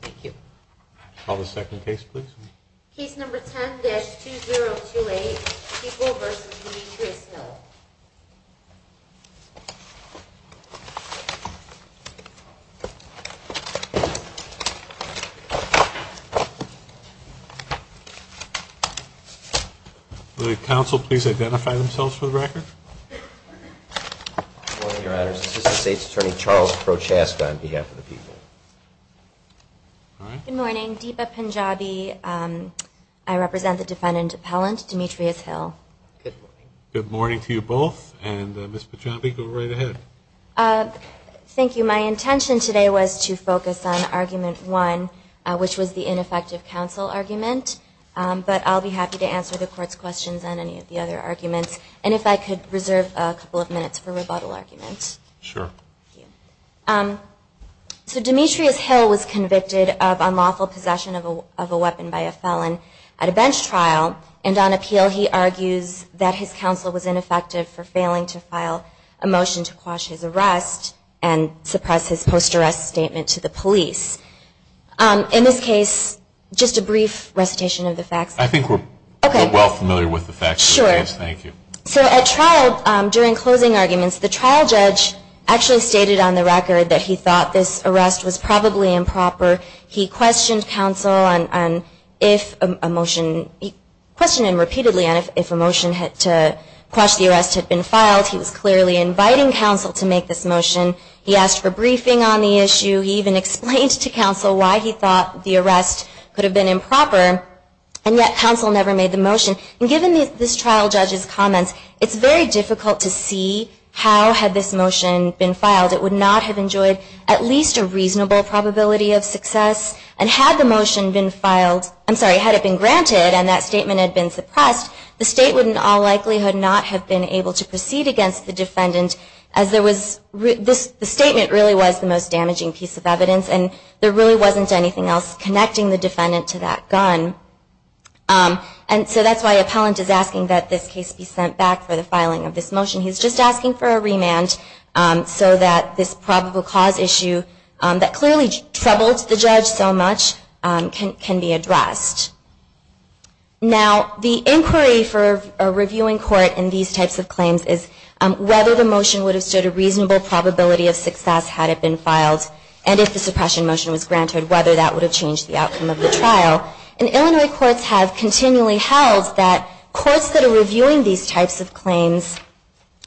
Thank you. Call the second case, please. Case number 10-2028, People v. Demetrius Hill. Will the counsel please identify themselves for the record? Your Honor, this is the State's Attorney Charles Prochaska on behalf of the People. Good morning. Deepa Punjabi. I represent the defendant appellant, Demetrius Hill. Good morning to you both. And Ms. Punjabi, go right ahead. Thank you. My intention today was to focus on argument one, which was the ineffective counsel argument. But I'll be happy to answer the court's questions on any of the other arguments. And if I could reserve a couple of minutes for rebuttal arguments. Sure. Thank you. So Demetrius Hill was convicted of unlawful possession of a weapon by a felon at a bench trial. And on appeal, he argues that his counsel was ineffective for failing to file a motion to quash his arrest and suppress his post-arrest statement to the police. In this case, just a brief recitation of the facts. I think we're well familiar with the facts of the case. Thank you. So at trial, during closing arguments, the trial judge actually stated on the record that he thought this arrest was probably improper. He questioned counsel on if a motion, he questioned him repeatedly on if a motion to quash the arrest had been filed. He was clearly inviting counsel to make this motion. He asked for briefing on the issue. He even explained to counsel why he thought the arrest could have been improper. And yet, counsel never made the motion. And given this trial judge's comments, it's very difficult to see how had this motion been filed. It would not have enjoyed at least a reasonable probability of success. And had the motion been filed, I'm sorry, had it been granted and that statement had been suppressed, the state would in all likelihood not have been able to proceed against the defendant as the statement really was the most damaging piece of evidence and there really wasn't anything else connecting the defendant to that gun. And so that's why appellant is asking that this case be sent back for the filing of this motion. He's just asking for a remand so that this probable cause issue that clearly troubled the judge so much can be addressed. Now, the inquiry for a reviewing court in these types of claims is whether the motion would have stood a reasonable probability of success had it been filed and if the suppression motion was granted, whether that would have changed the outcome of the trial. And Illinois courts have continually held that courts that are reviewing these types of claims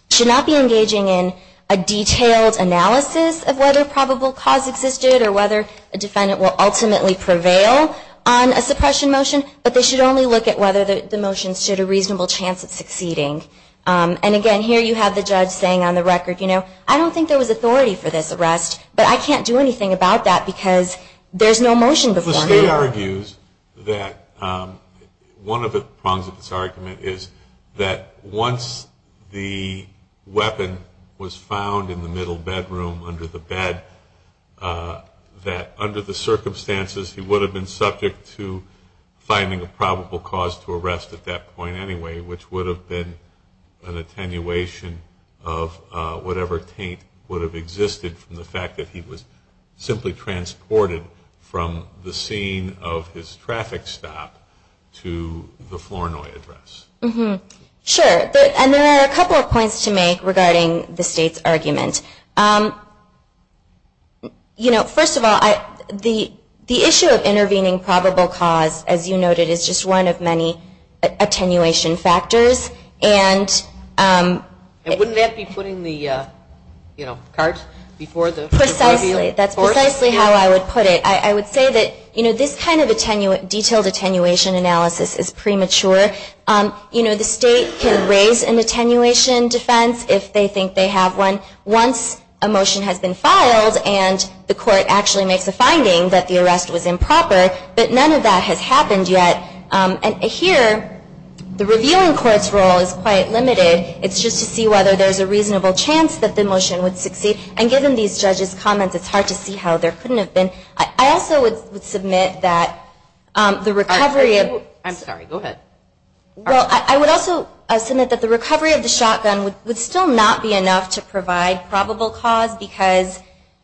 should not be engaging in a detailed analysis of whether probable cause existed or whether a defendant will ultimately prevail on a suppression motion, but they should only look at whether the motion stood a reasonable chance of succeeding. And again, here you have the judge saying on the record, I don't think there was authority for this arrest, but I can't do anything about that because there's no motion before me. Tate argues that one of the prongs of this argument is that once the weapon was found in the middle bedroom under the bed, that under the circumstances, he would have been subject to finding a probable cause to arrest at that point anyway, which would have been an attenuation of whatever taint would have existed from the fact that he was simply transported from the scene of his traffic stop to the Flournoy address. Sure. And there are a couple of points to make regarding the state's argument. First of all, the issue of intervening probable cause, as you noted, is just one of many attenuation factors. And wouldn't that be putting the cart before the force? That's precisely how I would put it. I would say that this kind of detailed attenuation analysis is premature. The state can raise an attenuation defense if they think they have one once a motion has been filed and the court actually makes a finding that the arrest was improper. But none of that has happened yet. And here, the revealing court's role is quite limited. It's just to see whether there's a reasonable chance that the motion would succeed. And given these judges' comments, it's hard to see how there couldn't have been. I also would submit that the recovery of the shotgun would still not be enough to provide probable cause because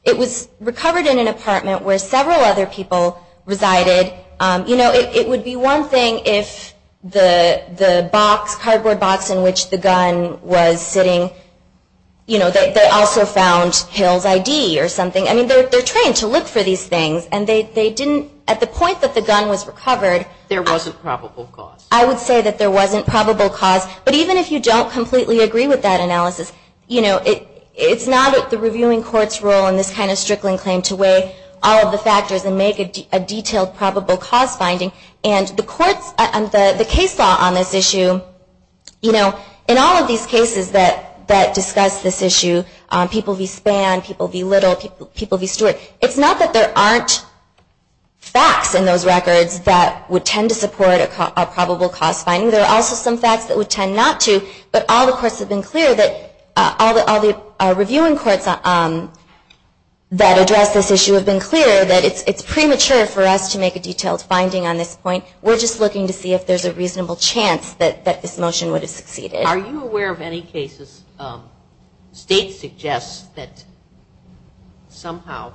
it was recovered in an apartment where several other people resided. And they also found Hill's ID or something. I mean, they're trained to look for these things. And at the point that the gun was recovered, there wasn't probable cause. I would say that there wasn't probable cause. But even if you don't completely agree with that analysis, it's not the reviewing court's role in this kind of strickling claim to weigh all of the factors and make a detailed probable cause finding. And the case law on this issue, in all of these cases that discuss this issue, people v. Spann, people v. Little, people v. Stewart, it's not that there aren't facts in those records that would tend to support a probable cause finding. There are also some facts that would tend not to. But all the reviewing courts that address this issue have been clear that it's premature for us to make a detailed finding on this point. We're just looking to see if there's a reasonable chance that this motion would have succeeded. Are you aware of any cases, states suggest that somehow,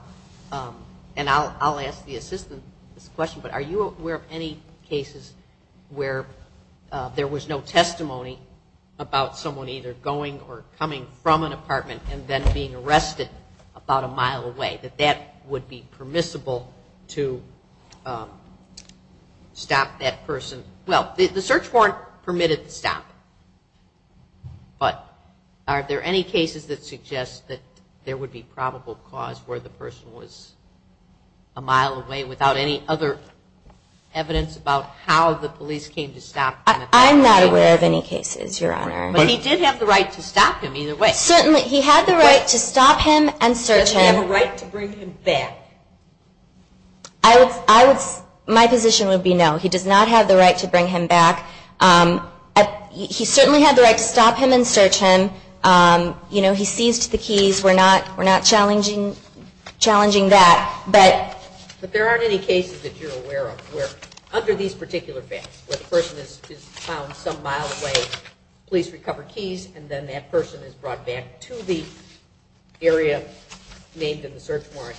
and I'll ask the assistant this question, but are you aware of any cases where there was no testimony about someone either going or coming from an apartment and then being arrested about a mile away, that that would be permissible to stop that person? Well, the search warrant permitted the stop. But are there any cases that suggest that there would be probable cause where the person was a mile away without any other evidence about how the police came to stop them? I'm not aware of any cases, Your Honor. But he did have the right to stop him either way. Certainly. He had the right to stop him and search him. Does he have a right to bring him back? My position would be no. He does not have the right to bring him back. He certainly had the right to stop him and search him. He seized the keys. We're not challenging that. But there aren't any cases that you're aware of where under these particular facts, where the person is found some mile away, police recover keys, and then that person is brought back to the area named in the search warrant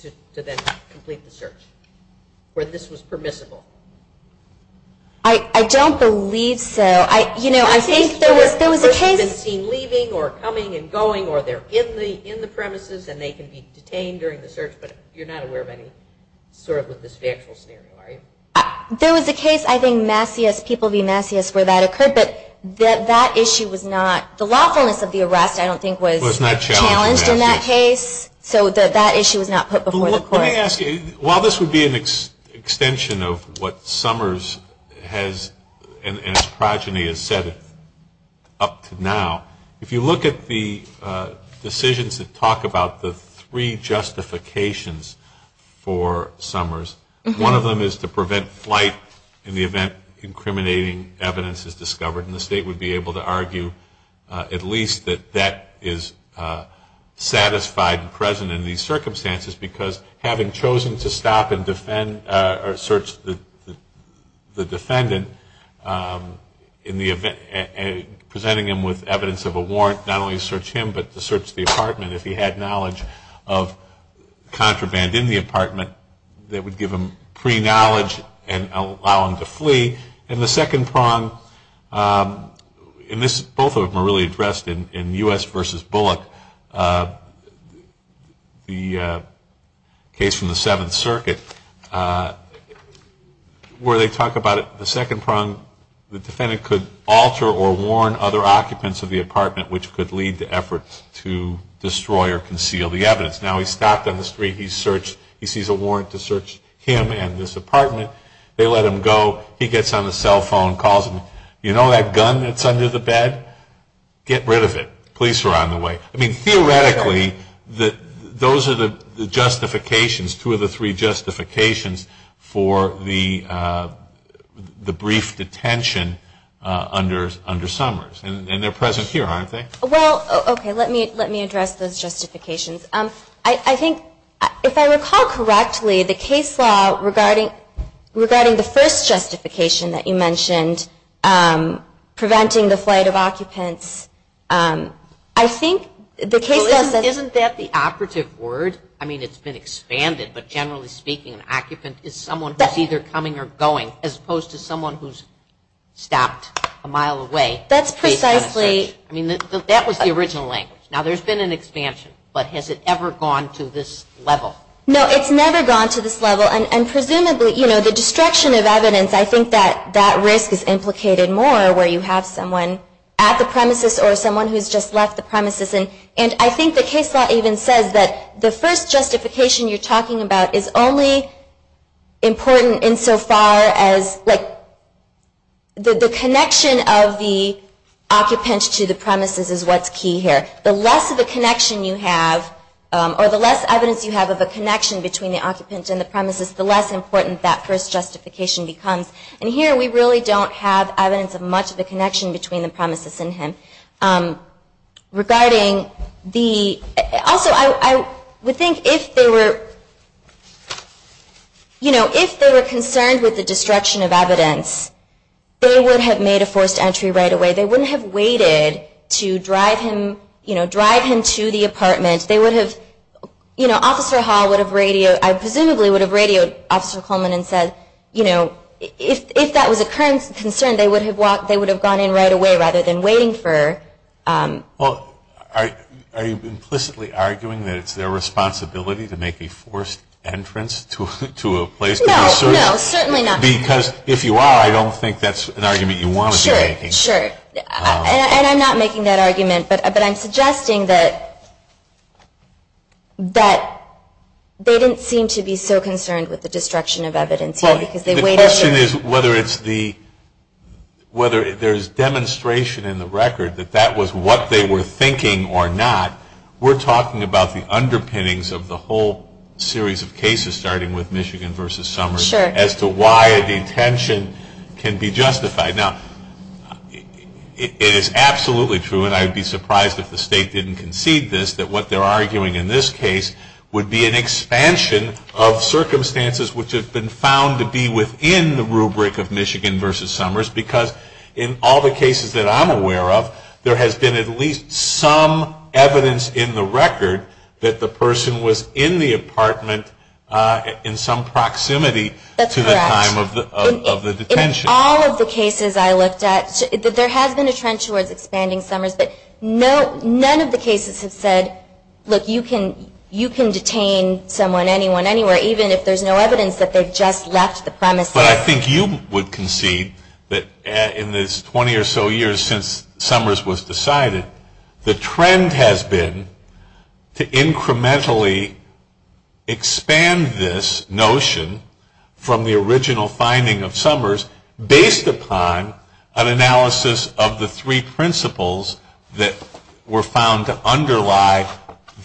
to then complete the search, where this was permissible? I don't believe so. I think there was a case. There was a case where a person had been seen leaving or coming and going, or they're in the premises and they can be detained during the search, but you're not aware of any sort of a dysfactorial scenario, are you? There was a case, I think, Massey S. People v. Massey S. where that occurred. But that issue was not, the lawfulness of the arrest, I don't think, was challenged in that case. So that issue was not put before the court. Let me ask you, while this would be an extension of what Summers has, and his progeny has said up to now, if you look at the decisions that talk about the three justifications for Summers, one of them is to prevent flight in the event incriminating evidence is discovered. And the state would be able to argue, at least, that that is satisfied and present in these circumstances because, having chosen to stop and search the defendant, presenting him with evidence of a warrant not only to search him but to search the apartment, if he had knowledge of contraband in the apartment, that would give him pre-knowledge and allow him to flee. And the second prong, and both of them are really addressed in US versus Bullock, the case from the Seventh Circuit, where they talk about the second prong, the defendant could alter or warn other occupants of the apartment, which could lead to efforts to destroy or conceal the evidence. Now, he's stopped on the street. He sees a warrant to search him and this apartment. They let him go. He gets on the cell phone, calls them. You know that gun that's under the bed? Get rid of it. Police are on the way. I mean, theoretically, those are the justifications, two of the three justifications, for the brief detention under Summers. And they're present here, aren't they? Well, OK, let me address those justifications. I think, if I recall correctly, the case law regarding the first justification that you mentioned, preventing the flight of occupants, I think the case law says that. Isn't that the operative word? I mean, it's been expanded. But generally speaking, an occupant is someone who's either coming or going, as opposed to someone who's stopped a mile away. That's precisely. I mean, that was the original language. Now, there's been an expansion. But has it ever gone to this level? No, it's never gone to this level. And presumably, the destruction of evidence, I think that that risk is implicated more, where you have someone at the premises or someone who's just left the premises. And I think the case law even says that the first justification you're talking about is only important insofar as the connection of the occupants to the premises is what's key here. or the less evidence you have of a connection between the occupants and the premises, the less important that first justification becomes. And here, we really don't have evidence of much of a connection between the premises and him. Also, I would think if they were concerned with the destruction of evidence, they would have made a forced entry right away. They wouldn't have waited to drive him to the apartment. They would have, you know, Officer Hall would have radioed, I presumably would have radioed Officer Coleman and said, you know, if that was a current concern, they would have gone in right away, rather than waiting for. Well, are you implicitly arguing that it's their responsibility to make a forced entrance to a place? No, no, certainly not. Because if you are, I don't think that's an argument you want to be making. Sure, sure. And I'm not making that argument. But I'm suggesting that they didn't seem to be so concerned with the destruction of evidence here, because they waited. The question is whether there's demonstration in the record that that was what they were thinking or not. We're talking about the underpinnings of the whole series of cases, starting with Michigan versus Summers, as to why a detention can be justified. Now, it is absolutely true, and I would be surprised if the state didn't concede this, that what they're arguing in this case would be an expansion of circumstances which have been found to be within the rubric of Michigan versus Summers. Because in all the cases that I'm aware of, there has been at least some evidence in the record that the person was in the apartment in some proximity to the time of the detention. In all of the cases I looked at, there has been a trend towards expanding Summers. But none of the cases have said, look, you can detain someone, anyone, anywhere, even if there's no evidence that they just left the premises. But I think you would concede that in this 20 or so years since Summers was decided, the trend has been to incrementally expand this notion from the original finding of Summers, based upon an analysis of the three principles that were found to underlie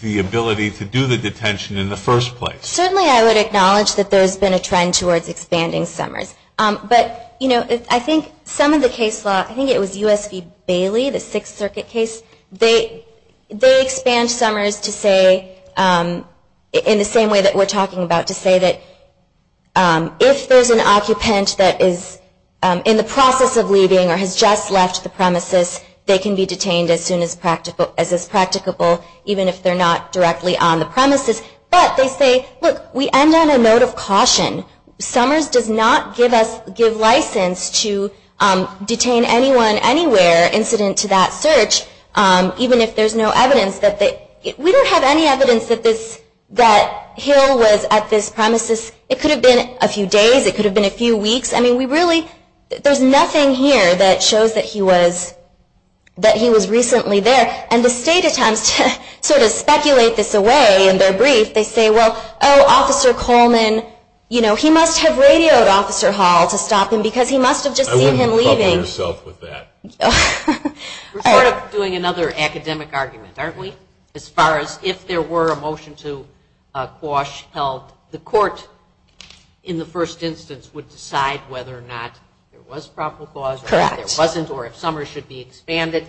the ability to do the detention in the first place. Certainly, I would acknowledge that there's been a trend towards expanding Summers. But I think some of the case law, I think it was US v. Bailey, the Sixth Circuit case, they expand Summers to say, in the same way that we're talking about, to say that if there's an occupant that is in the process of leaving or has just left the premises, they can be detained as soon as is practicable, even if they're not directly on the premises. But they say, look, we end on a note of caution. Summers does not give us license to detain anyone, anywhere incident to that search, even if there's no evidence that they, we don't have any evidence that Hill was at this premises. It could have been a few days. It could have been a few weeks. I mean, we really, there's nothing here that shows that he was recently there. And the state attempts to sort of speculate this away in their brief. They say, well, oh, Officer Coleman, you know, he must have radioed Officer Hall to stop him, because he must have just seen him leaving. I wouldn't have covered yourself with that. We're sort of doing another academic argument, aren't we? As far as if there were a motion to quash health, the court, in the first instance, would decide whether or not there was probable cause, or if there wasn't, or if Summers should be expanded.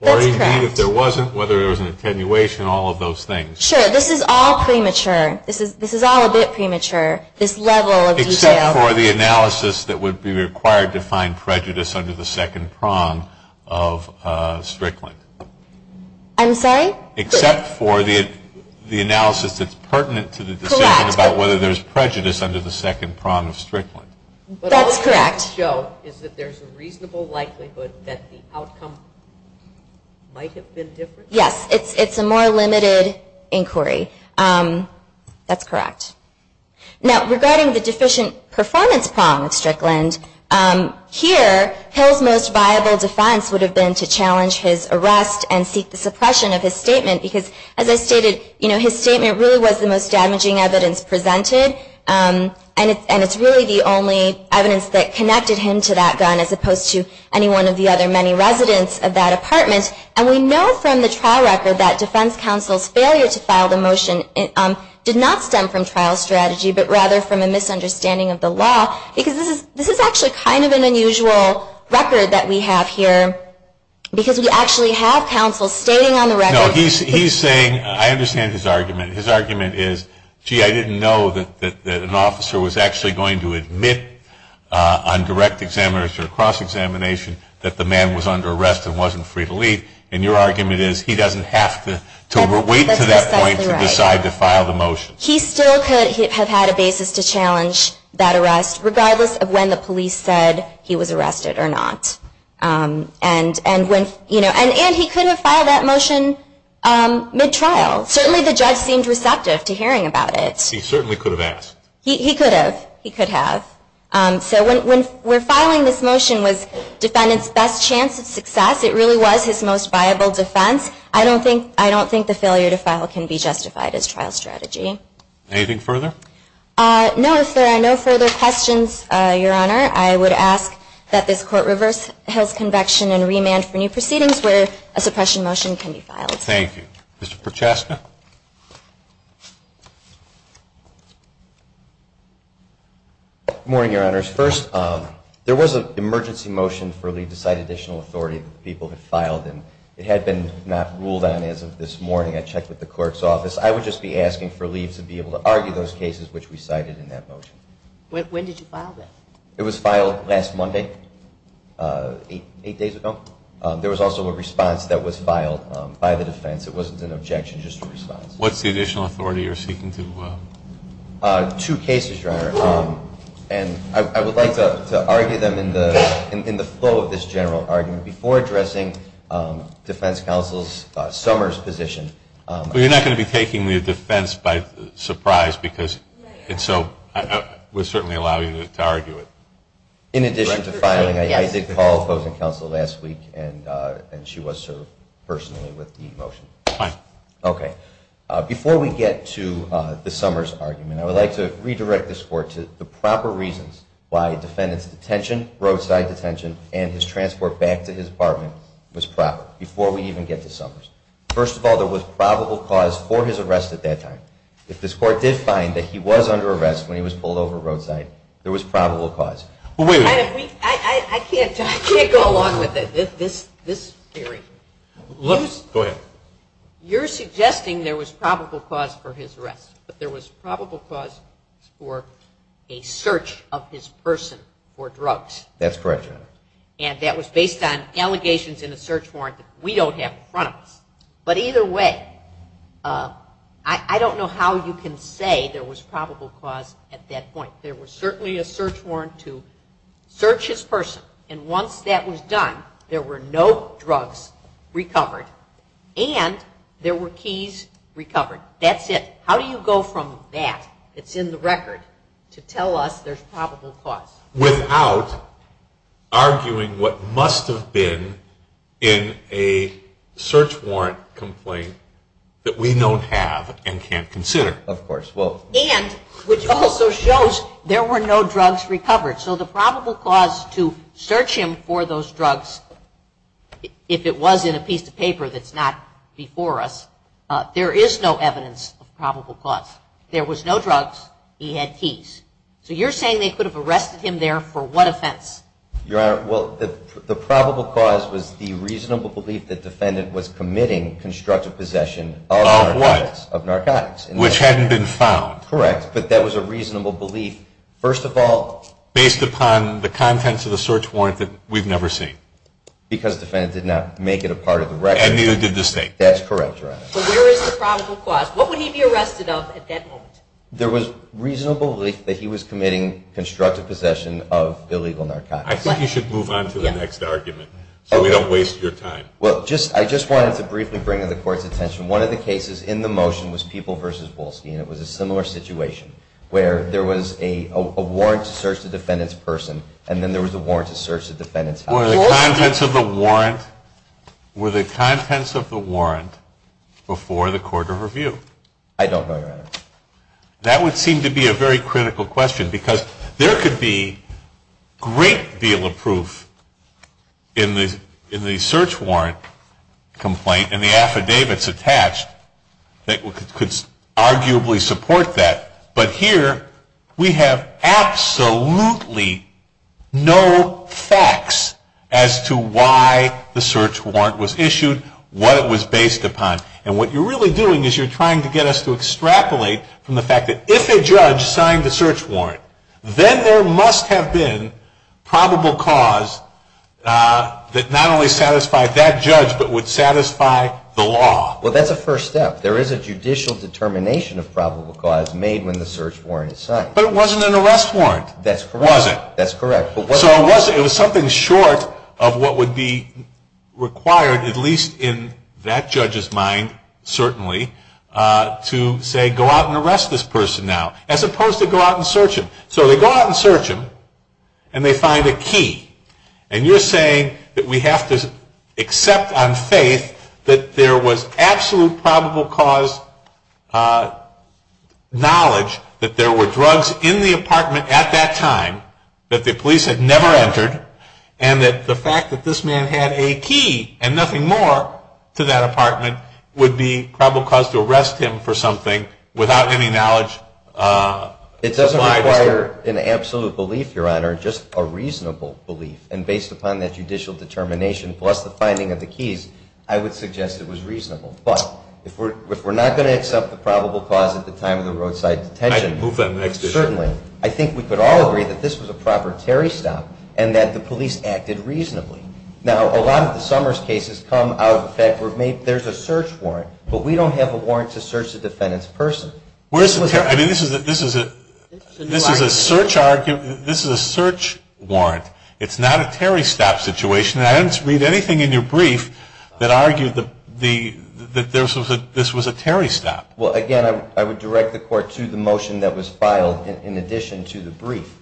Or, indeed, if there wasn't, whether there was an attenuation, all of those things. Sure, this is all premature. This is all a bit premature, this level of detail. Except for the analysis that would be required to find prejudice under the second prong of Strickland. I'm sorry? Except for the analysis that's pertinent to the decision about whether there's prejudice under the second prong of Strickland. That's correct. But all it's going to show is that there's a reasonable likelihood that the outcome might have been different. Yes, it's a more limited inquiry. That's correct. Now, regarding the deficient performance prong of Strickland, here, Hill's most viable defense would have been to challenge his arrest and seek the suppression of his statement. Because, as I stated, you know, his statement really was the most damaging evidence presented. And it's really the only evidence that connected him to that gun, as opposed to any one of the other many residents of that apartment. And we know from the trial record that defense counsel's failure to file the motion did not stem from trial strategy, but rather from a misunderstanding of the law. Because this is actually kind of an unusual record that we have here. Because we actually have counsel stating on the record. No, he's saying, I understand his argument. His argument is, gee, I didn't know that an officer was actually going to admit on direct examination or cross-examination that the man was under arrest and wasn't free to leave. And your argument is, he doesn't have to wait to that point to decide to file the motion. He still could have had a basis to challenge that arrest, regardless of when the police said he was arrested or not. And he could have filed that motion mid-trial. Certainly the judge seemed receptive to hearing about it. He certainly could have asked. He could have. He could have. So when we're filing this motion was defendant's best chance of success. It really was his most viable defense. I don't think the failure to file can be justified as trial strategy. Anything further? No, if there are no further questions, Your Honor, I would ask that this court reverse Hill's convection and remand for new proceedings where a suppression motion can be filed. Thank you. Mr. Prochastna? Good morning, Your Honors. First, there was an emergency motion for Lee to cite additional authority that people had filed. And it had been not ruled on as of this morning. I checked with the clerk's office. I would just be asking for Lee to be able to argue those cases which we cited in that motion. When did you file that? It was filed last Monday, eight days ago. There was also a response that was filed by the defense. It wasn't an objection, just a response. What's the additional authority you're seeking to? Two cases, Your Honor. And I would like to argue them in the flow of this general argument before addressing Defense Counsel's Summers' position. Well, you're not going to be taking the defense by surprise. And so I would certainly allow you to argue it. In addition to filing, I did call opposing counsel last week. And she was served personally with the motion. OK. Before we get to the Summers' argument, I would like to redirect this court to the proper reasons why a defendant's detention, roadside detention, and his transport back to his apartment was proper before we even get to Summers. First of all, there was probable cause for his arrest at that time. If this court did find that he was under arrest when he was pulled over roadside, there was probable cause. But wait a minute. I can't go along with it. This theory. Go ahead. You're suggesting there was probable cause for his arrest. But there was probable cause for a search of his person for drugs. That's correct, Your Honor. And that was based on allegations in the search warrant that we don't have in front of us. But either way, I don't know how you can say there was probable cause at that point. There was certainly a search warrant to search his person. And once that was done, there were no drugs recovered. And there were keys recovered. That's it. How do you go from that, that's in the record, to tell us there's probable cause? Without arguing what must have been in a search warrant complaint that we don't have and can't consider. Of course. And which also shows there were no drugs recovered. So the probable cause to search him for those drugs, if it was in a piece of paper that's not before us, there is no evidence of probable cause. There was no drugs. He had keys. So you're saying they could have arrested him there for what offense? Your Honor, well, the probable cause was the reasonable belief that defendant was committing constructive possession of narcotics. Which hadn't been found. Correct. But that was a reasonable belief. First of all. Based upon the contents of the search warrant that we've never seen. Because defendant did not make it a part of the record. And neither did the state. That's correct, Your Honor. But where is the probable cause? What would he be arrested of at that moment? There was reasonable belief that he was committing constructive possession of illegal narcotics. I think you should move on to the next argument so we don't waste your time. Well, I just wanted to briefly bring to the court's attention, one of the cases in the motion was People v. Wolski. And it was a similar situation where there was a warrant to search the defendant's person. And then there was a warrant to search the defendant's house. Were the contents of the warrant before the court of review? I don't know, Your Honor. That would seem to be a very critical question. Because there could be a great deal of proof in the search warrant complaint and the affidavits attached that could arguably support that. But here, we have absolutely no facts as to why the search warrant was issued, what it was based upon. And what you're really doing is you're trying to get us to extrapolate from the fact that if a judge signed the search warrant, then there must have been probable cause that not only satisfied that judge, but would satisfy the law. Well, that's a first step. There is a judicial determination of probable cause made when the search warrant is signed. But it wasn't an arrest warrant, was it? That's correct. So it was something short of what would be required, at least in that judge's mind, certainly, to say, go out and arrest this person now, as opposed to go out and search him. So they go out and search him. And you're saying that we have to accept on faith that there was absolute probable cause knowledge that there were drugs in the apartment at that time that the police had never entered, and that the fact that this man had a key and nothing more to that apartment would be probable cause to arrest him for something without any knowledge supplied as to that? It doesn't require an absolute belief, Your Honor, just a reasonable belief. And based upon that judicial determination, plus the finding of the keys, I would suggest it was reasonable. But if we're not going to accept the probable cause at the time of the roadside detention, certainly, I think we could all agree that this was a proper Terry stop, and that the police acted reasonably. Now, a lot of the Summers cases come out of the fact where there's a search warrant, but we don't have a warrant to search the defendant's person. Where's the Terry? I mean, this is a search argument. This is a search warrant. It's not a Terry stop situation. And I didn't read anything in your brief that argued that this was a Terry stop. Well, again, I would direct the court to the motion that was filed in addition to the brief.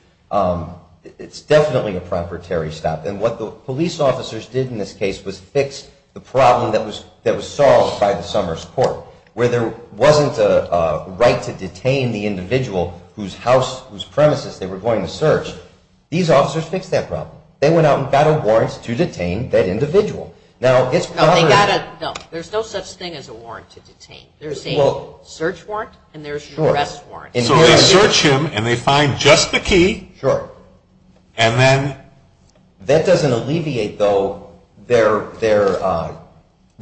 It's definitely a proper Terry stop. And what the police officers did in this case was fix the problem that was solved by the Summers court, where there wasn't a right to detain the individual whose premises they were going to search. These officers fixed that problem. They went out and got a warrant to detain that individual. No, they got a, no. There's no such thing as a warrant to detain. There's a search warrant, and there's a arrest warrant. So they search him, and they find just the key, and then? That doesn't alleviate, though, their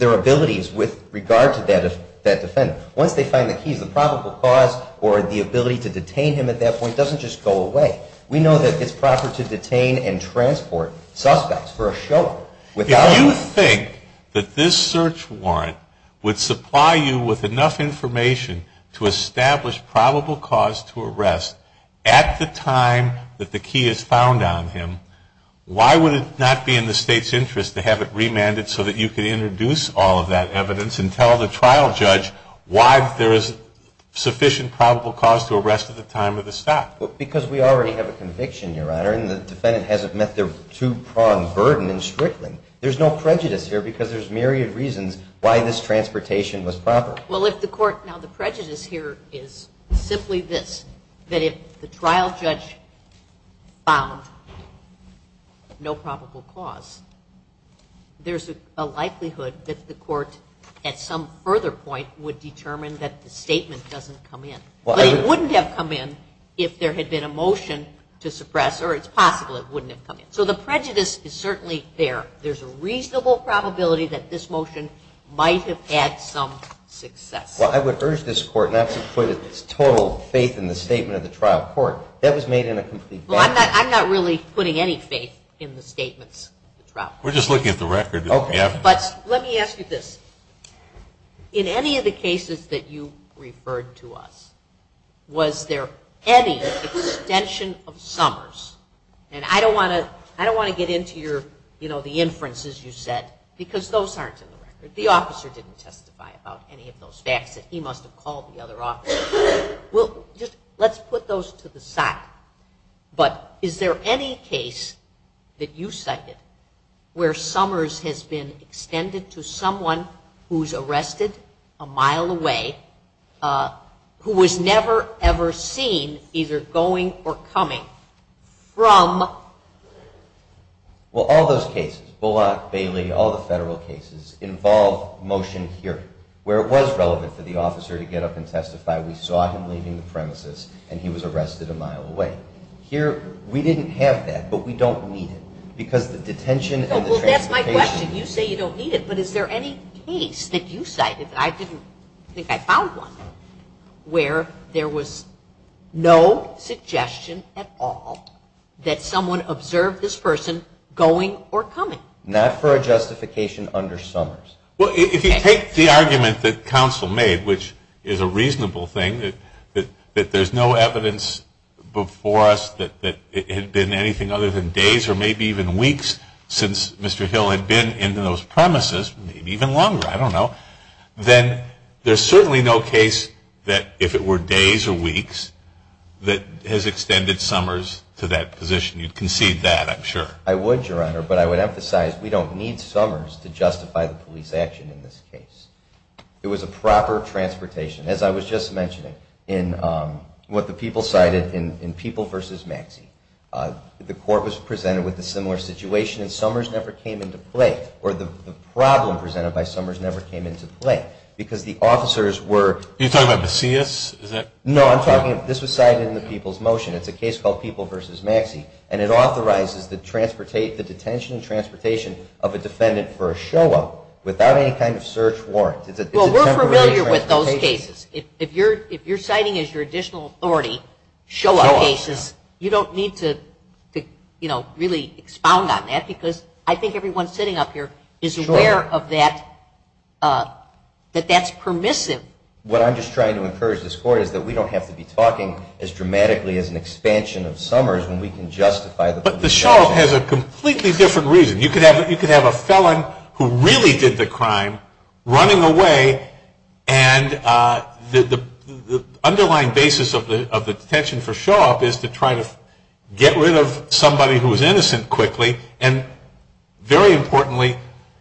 abilities with regard to that defendant. Once they find the keys, the probable cause or the ability to detain him at that point doesn't just go away. We know that it's proper to detain and transport suspects for a show. If you think that this search warrant would supply you with enough information to establish probable cause to arrest at the time that the key is found on him, why would it not be in the state's interest to have it remanded so that you could introduce all of that evidence and tell the trial judge why there is sufficient probable cause to arrest at the time of the stop? Because we already have a conviction, Your Honor, and the defendant hasn't met their two-pronged burden in Strickland. There's no prejudice here, because there's myriad reasons why this transportation was proper. Well, if the court, now the prejudice here is simply this, that if the trial judge found no probable cause, there's a likelihood that the court, at some further point, would determine that the statement doesn't come in. But it wouldn't have come in if there had been a motion to suppress, or it's possible it wouldn't have come in. So the prejudice is certainly there. There's a reasonable probability that this motion might have had some success. Well, I would urge this court not to put its total faith in the statement of the trial court. That was made in a complete balance. Well, I'm not really putting any faith in the statements of the trial court. We're just looking at the record. But let me ask you this. In any of the cases that you referred to us, was there any extension of Summers? And I don't want to get into the inferences you said, because those aren't in the record. The officer didn't testify about any of those facts that he must have called the other officer. Let's put those to the side. But is there any case that you cited where Summers has been extended to someone who's never, ever seen either going or coming from? Well, all those cases, Bullock, Bailey, all the federal cases involve motion hearing, where it was relevant for the officer to get up and testify. We saw him leaving the premises. And he was arrested a mile away. Here, we didn't have that. But we don't need it, because the detention and the transportation. Well, that's my question. You say you don't need it. But is there any case that you cited, I didn't think I found one, where there was no suggestion at all that someone observed this person going or coming? Not for a justification under Summers. Well, if you take the argument that counsel made, which is a reasonable thing, that there's no evidence before us that it had been anything other than days or maybe even weeks since Mr. Hill had been in those premises, maybe even longer, I don't know. Then there's certainly no case that, if it were days or weeks, that has extended Summers to that position. You'd concede that, I'm sure. I would, Your Honor. But I would emphasize, we don't need Summers to justify the police action in this case. It was a proper transportation, as I was just mentioning, in what the people cited in People versus Maxey. The court was presented with a similar situation. And Summers never came into play. Or the problem presented by Summers never came into play. Because the officers were- Are you talking about Macias? No, I'm talking, this was cited in the People's Motion. It's a case called People versus Maxey. And it authorizes the detention and transportation of a defendant for a show-up without any kind of search warrant. Well, we're familiar with those cases. If you're citing as your additional authority show-up cases, you don't need to really expound on that. Because I think everyone sitting up here is aware of that, that that's permissive. What I'm just trying to encourage this court is that we don't have to be talking as dramatically as an expansion of Summers when we can justify the police action. But the show-up has a completely different reason. You could have a felon who really did the crime running away. And the underlying basis of the detention for show-up is to try to get rid of somebody who was innocent quickly. And very importantly,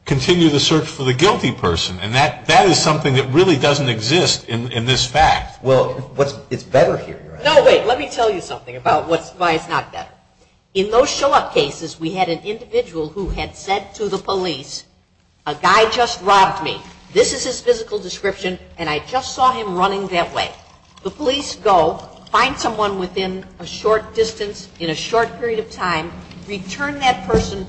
continue the search for the guilty person. And that is something that really doesn't exist in this fact. Well, it's better here. No, wait, let me tell you something about why it's not better. In those show-up cases, we had an individual who had said to the police, a guy just robbed me. This is his physical description. And I just saw him running that way. The police go, find someone within a short distance in a short period of time, return that person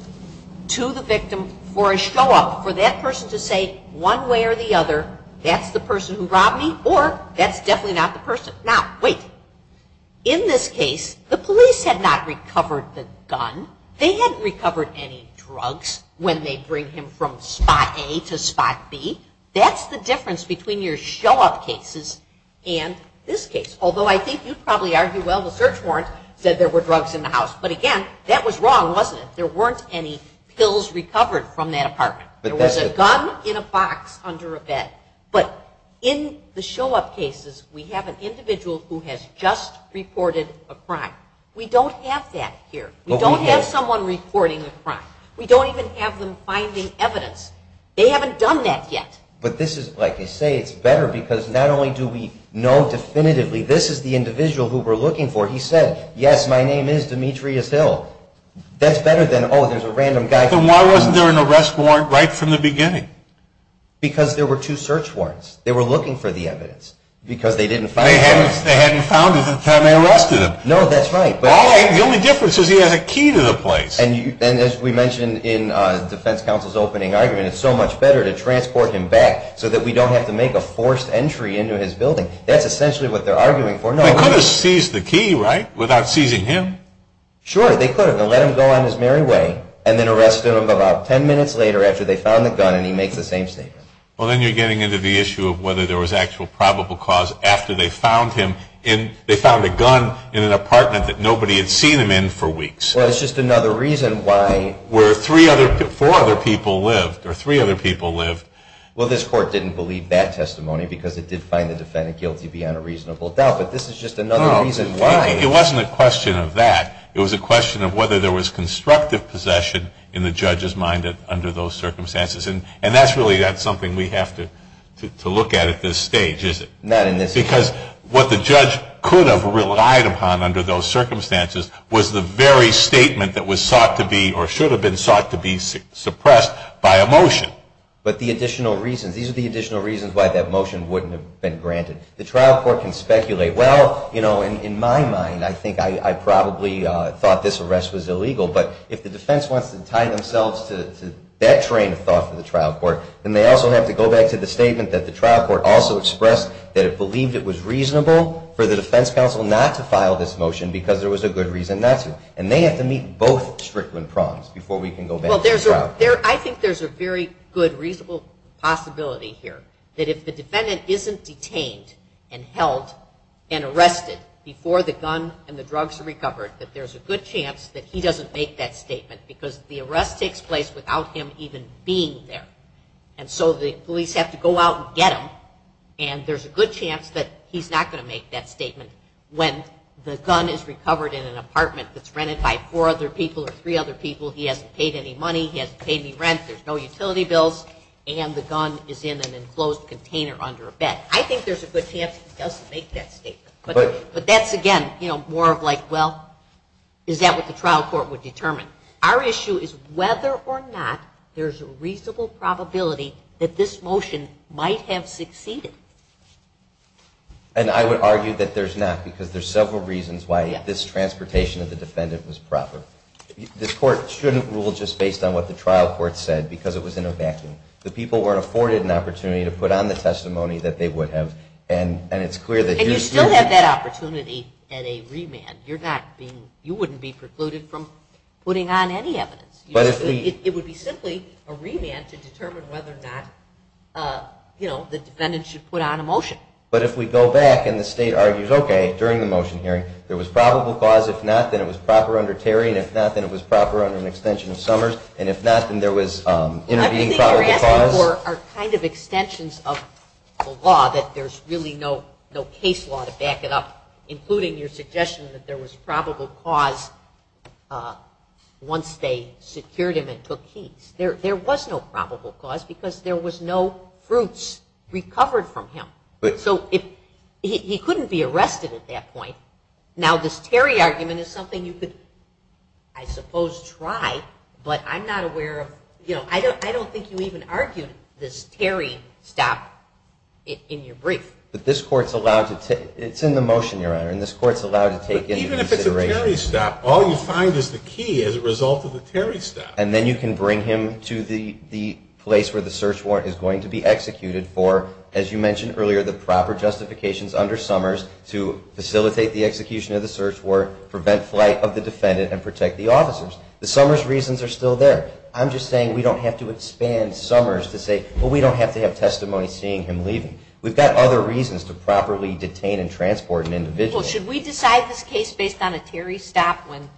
to the victim for a show-up, for that person to say one way or the other, that's the person who robbed me. Or that's definitely not the person. Now, wait. In this case, the police had not recovered the gun. They hadn't recovered any drugs when they bring him from spot A to spot B. That's the difference Although I think you'd probably argue, well, the search warrant said there were drugs in the house. But again, that was wrong, wasn't it? There weren't any pills recovered from that apartment. There was a gun in a box under a bed. But in the show-up cases, we have an individual who has just reported a crime. We don't have that here. We don't have someone reporting a crime. We don't even have them finding evidence. They haven't done that yet. But this is, like you say, it's better because not only do we know definitively, this is the individual who we're looking for. He said, yes, my name is Demetrius Hill. That's better than, oh, there's a random guy. But why wasn't there an arrest warrant right from the beginning? Because there were two search warrants. They were looking for the evidence because they didn't find it. They hadn't found it the time they arrested him. No, that's right. But the only difference is he has a key to the place. And as we mentioned in the defense counsel's opening argument, it's so much better to transport him back so that we don't have to make a forced entry into his building. That's essentially what they're arguing for. They could have seized the key, right, without seizing him. Sure, they could have. They let him go on his merry way, and then arrested him about 10 minutes later after they found the gun, and he makes the same statement. Well, then you're getting into the issue of whether there was actual probable cause after they found him. They found a gun in an apartment that nobody had seen him in for weeks. Well, it's just another reason why. Where three other, four other people lived, or three other people lived. Well, this court didn't believe that testimony because it did find the defendant guilty beyond a reasonable doubt. But this is just another reason why. It wasn't a question of that. It was a question of whether there was constructive possession in the judge's mind under those circumstances. And that's really not something we have to look at at this stage, is it? Not in this case. Because what the judge could have relied upon under those circumstances was the very statement that was sought to be, or should have been sought to be, suppressed by a motion. But the additional reasons. These are the additional reasons why that motion wouldn't have been granted. The trial court can speculate, well, in my mind, I think I probably thought this arrest was illegal. But if the defense wants to tie themselves to that train of thought for the trial court, then they also have to go back to the statement that the trial court also expressed that it believed it was reasonable for the defense counsel not to file this motion because there was a good reason not to. And they have to meet both Strickland prongs before we can go back to the trial court. I think there's a very good, reasonable possibility here that if the defendant isn't detained and held and arrested before the gun and the drugs are recovered, that there's a good chance that he doesn't make that statement. Because the arrest takes place without him even being there. And so the police have to go out and get him. And there's a good chance that he's not going to make that statement when the gun is recovered in an apartment that's rented by four other people or three other people. He hasn't paid any money. He hasn't paid any rent. There's no utility bills. And the gun is in an enclosed container under a bed. I think there's a good chance he doesn't make that statement. But that's, again, more of like, well, is that what the trial court would determine? Our issue is whether or not there's a reasonable probability that this motion might have succeeded. And I would argue that there's not, because there's several reasons why this transportation of the defendant was proper. This court shouldn't rule just based on what the trial court said, because it was in a vacuum. The people were afforded an opportunity to put on the testimony that they would have. And it's clear that here's the fact. And you still have that opportunity at a remand. You wouldn't be precluded from putting on any evidence. It would be simply a remand to determine whether or not the defendant should put on a motion. But if we go back and the state argues, OK, during the motion hearing, there was probable cause. If not, then it was proper under Terry. And if not, then it was proper under an extension of Summers. And if not, then there was intervening probable cause. Everything you're asking for are kind of extensions of the law, that there's really no case law to back it up, including your suggestion that there was probable cause once they secured him and took keys. There was no probable cause, because there was no fruits recovered from him. So he couldn't be arrested at that point. Now, this Terry argument is something you could, I suppose, try. But I'm not aware of, you know, I don't think you even argued this Terry stop in your brief. But this court's allowed to take, it's in the motion, Your Honor, and this court's allowed to take into consideration. But even if it's a Terry stop, all you find is the key as a result of the Terry stop. And then you can bring him to the place where the search warrant is going to be executed for, as you mentioned earlier, the proper justifications under Summers to facilitate the execution of the search warrant, prevent flight of the defendant, and protect the officers. The Summers reasons are still there. I'm just saying we don't have to expand Summers to say, well, we don't have to have testimony seeing him leaving. We've got other reasons to properly detain and transport an individual. Well, should we decide this case based on a Terry stop when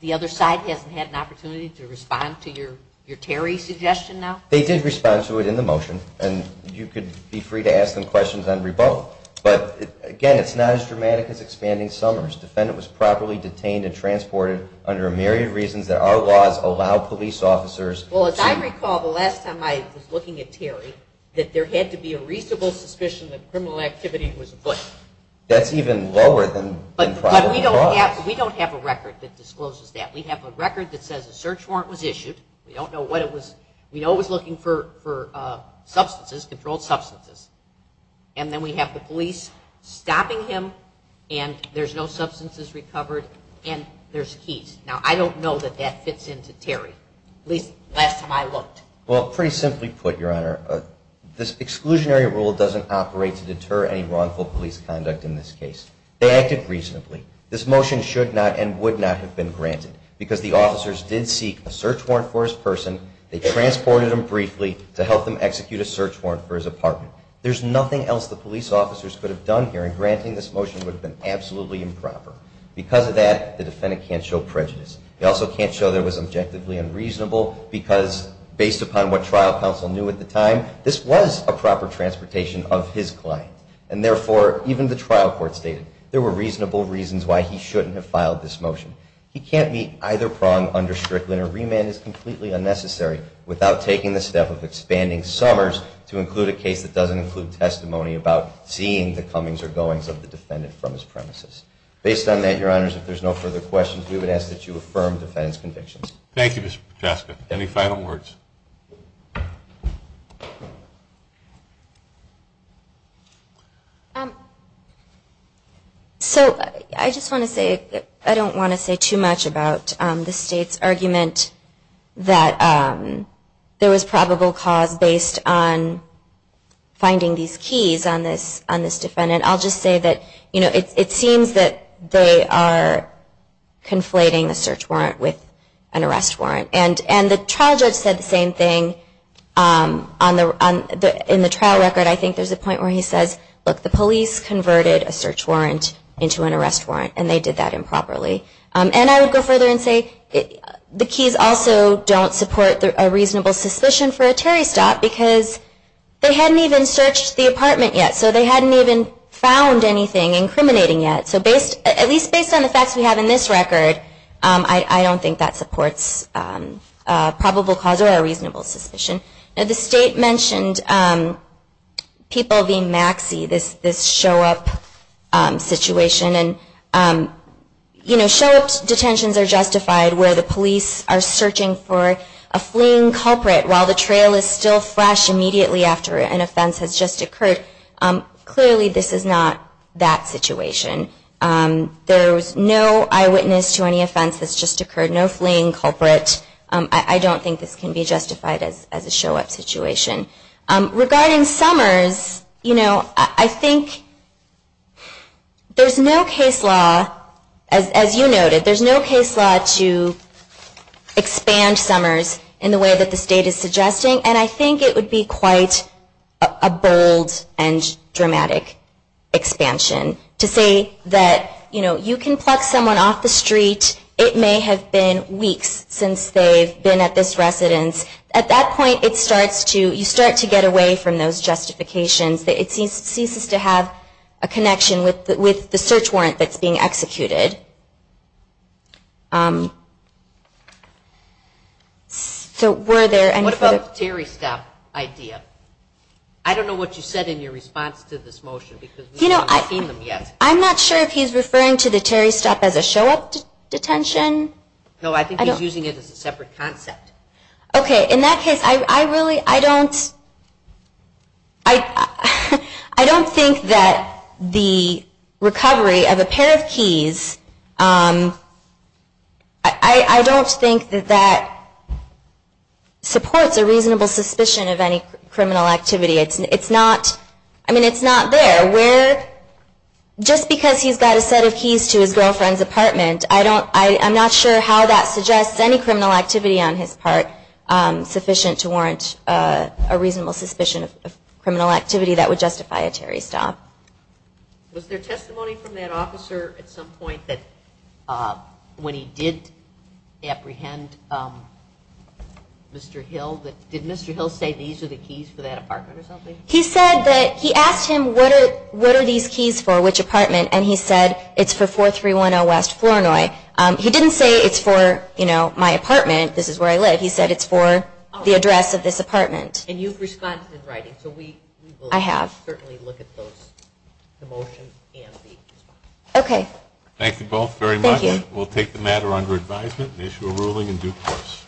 the other side hasn't had an opportunity to respond to your Terry suggestion now? They did respond to it in the motion. And you could be free to ask them questions on rebuttal. But again, it's not as dramatic as expanding Summers. Defendant was properly detained and transported under a myriad of reasons that our laws allow police officers. Well, as I recall, the last time I was looking at Terry, that there had to be a reasonable suspicion that criminal activity was afoot. That's even lower than the probable cause. We don't have a record that discloses that. We have a record that says a search warrant was issued. We don't know what it was. We know it was looking for substances, controlled substances. And then we have the police stopping him. And there's no substances recovered. And there's keys. Now, I don't know that that fits into Terry, at least last time I looked. Well, pretty simply put, Your Honor, this exclusionary rule doesn't operate to deter any wrongful police conduct in this case. They acted reasonably. This motion should not and would not have been granted because the officers did seek a search warrant for his person. They transported him briefly to help them execute a search warrant for his apartment. There's nothing else the police officers could have done here, and granting this motion would have been absolutely improper. Because of that, the defendant can't show prejudice. He also can't show there was objectively unreasonable because, based upon what trial counsel knew at the time, this was a proper transportation of his client. And therefore, even the trial court stated there were reasonable reasons why he shouldn't have filed this motion. He can't meet either prong under Strickland, and a remand is completely unnecessary without taking the step of expanding Summers to include a case that doesn't include testimony about seeing the comings or goings of the defendant from his premises. Based on that, Your Honors, if there's no further questions, we would ask that you affirm the defendant's convictions. Thank you, Mr. Piotrowski. Any final words? So I just want to say I don't want to say too much about the state's argument that there was probable cause based on finding these keys on this defendant. I'll just say that it seems that they are conflating a search warrant with an arrest warrant. And the trial judge said the same thing. In the trial record, I think there's a point where he says, look, the police converted a search warrant into an arrest warrant, and they did that improperly. And I would go further and say the keys also don't support a reasonable suspicion for a Terry stop because they hadn't even searched the apartment yet. So they hadn't even found anything incriminating yet. So at least based on the facts we have in this record, I don't think that supports probable cause or a reasonable suspicion. And the state mentioned people being maxi, this show up situation. And show up detentions are justified where the police are searching for a fleeing culprit while the trail is still fresh immediately after an offense has just occurred. Clearly, this is not that situation. There was no eyewitness to any offense that's just occurred, no fleeing culprit. I don't think this can be justified as a show up situation. Regarding Summers, I think there's no case law, as you noted, there's no case law to expand Summers in the way that the state is suggesting. And I think it would be quite a bold and dramatic expansion to say that you can pluck someone off the street. It may have been weeks since they've been at this residence. At that point, you start to get away from those justifications. It ceases to have a connection with the search warrant that's being executed. So were there any further? What about the Terry Stop idea? I don't know what you said in your response to this motion because we haven't seen them yet. I'm not sure if he's referring to the Terry Stop as a show up detention. No, I think he's using it as a separate concept. OK, in that case, I don't think that the recovery of a pair of keys, I don't think that that supports a reasonable suspicion of any criminal activity. I mean, it's not there. Just because he's got a set of keys to his girlfriend's apartment, I'm not sure how that suggests any criminal activity on his part sufficient to warrant a reasonable suspicion of criminal activity that would justify a Terry Stop. Was there testimony from that officer at some point that when he did apprehend Mr. Hill, did Mr. Hill say these are the keys for that apartment or something? He said that he asked him, what are these keys for? Which apartment? And he said, it's for 4310 West, Flournoy. He didn't say it's for my apartment. This is where I live. He said it's for the address of this apartment. And you've responded in writing, so we will certainly look at the motion and the response. OK. Thank you both very much. We'll take the matter under advisement and issue a ruling in due course.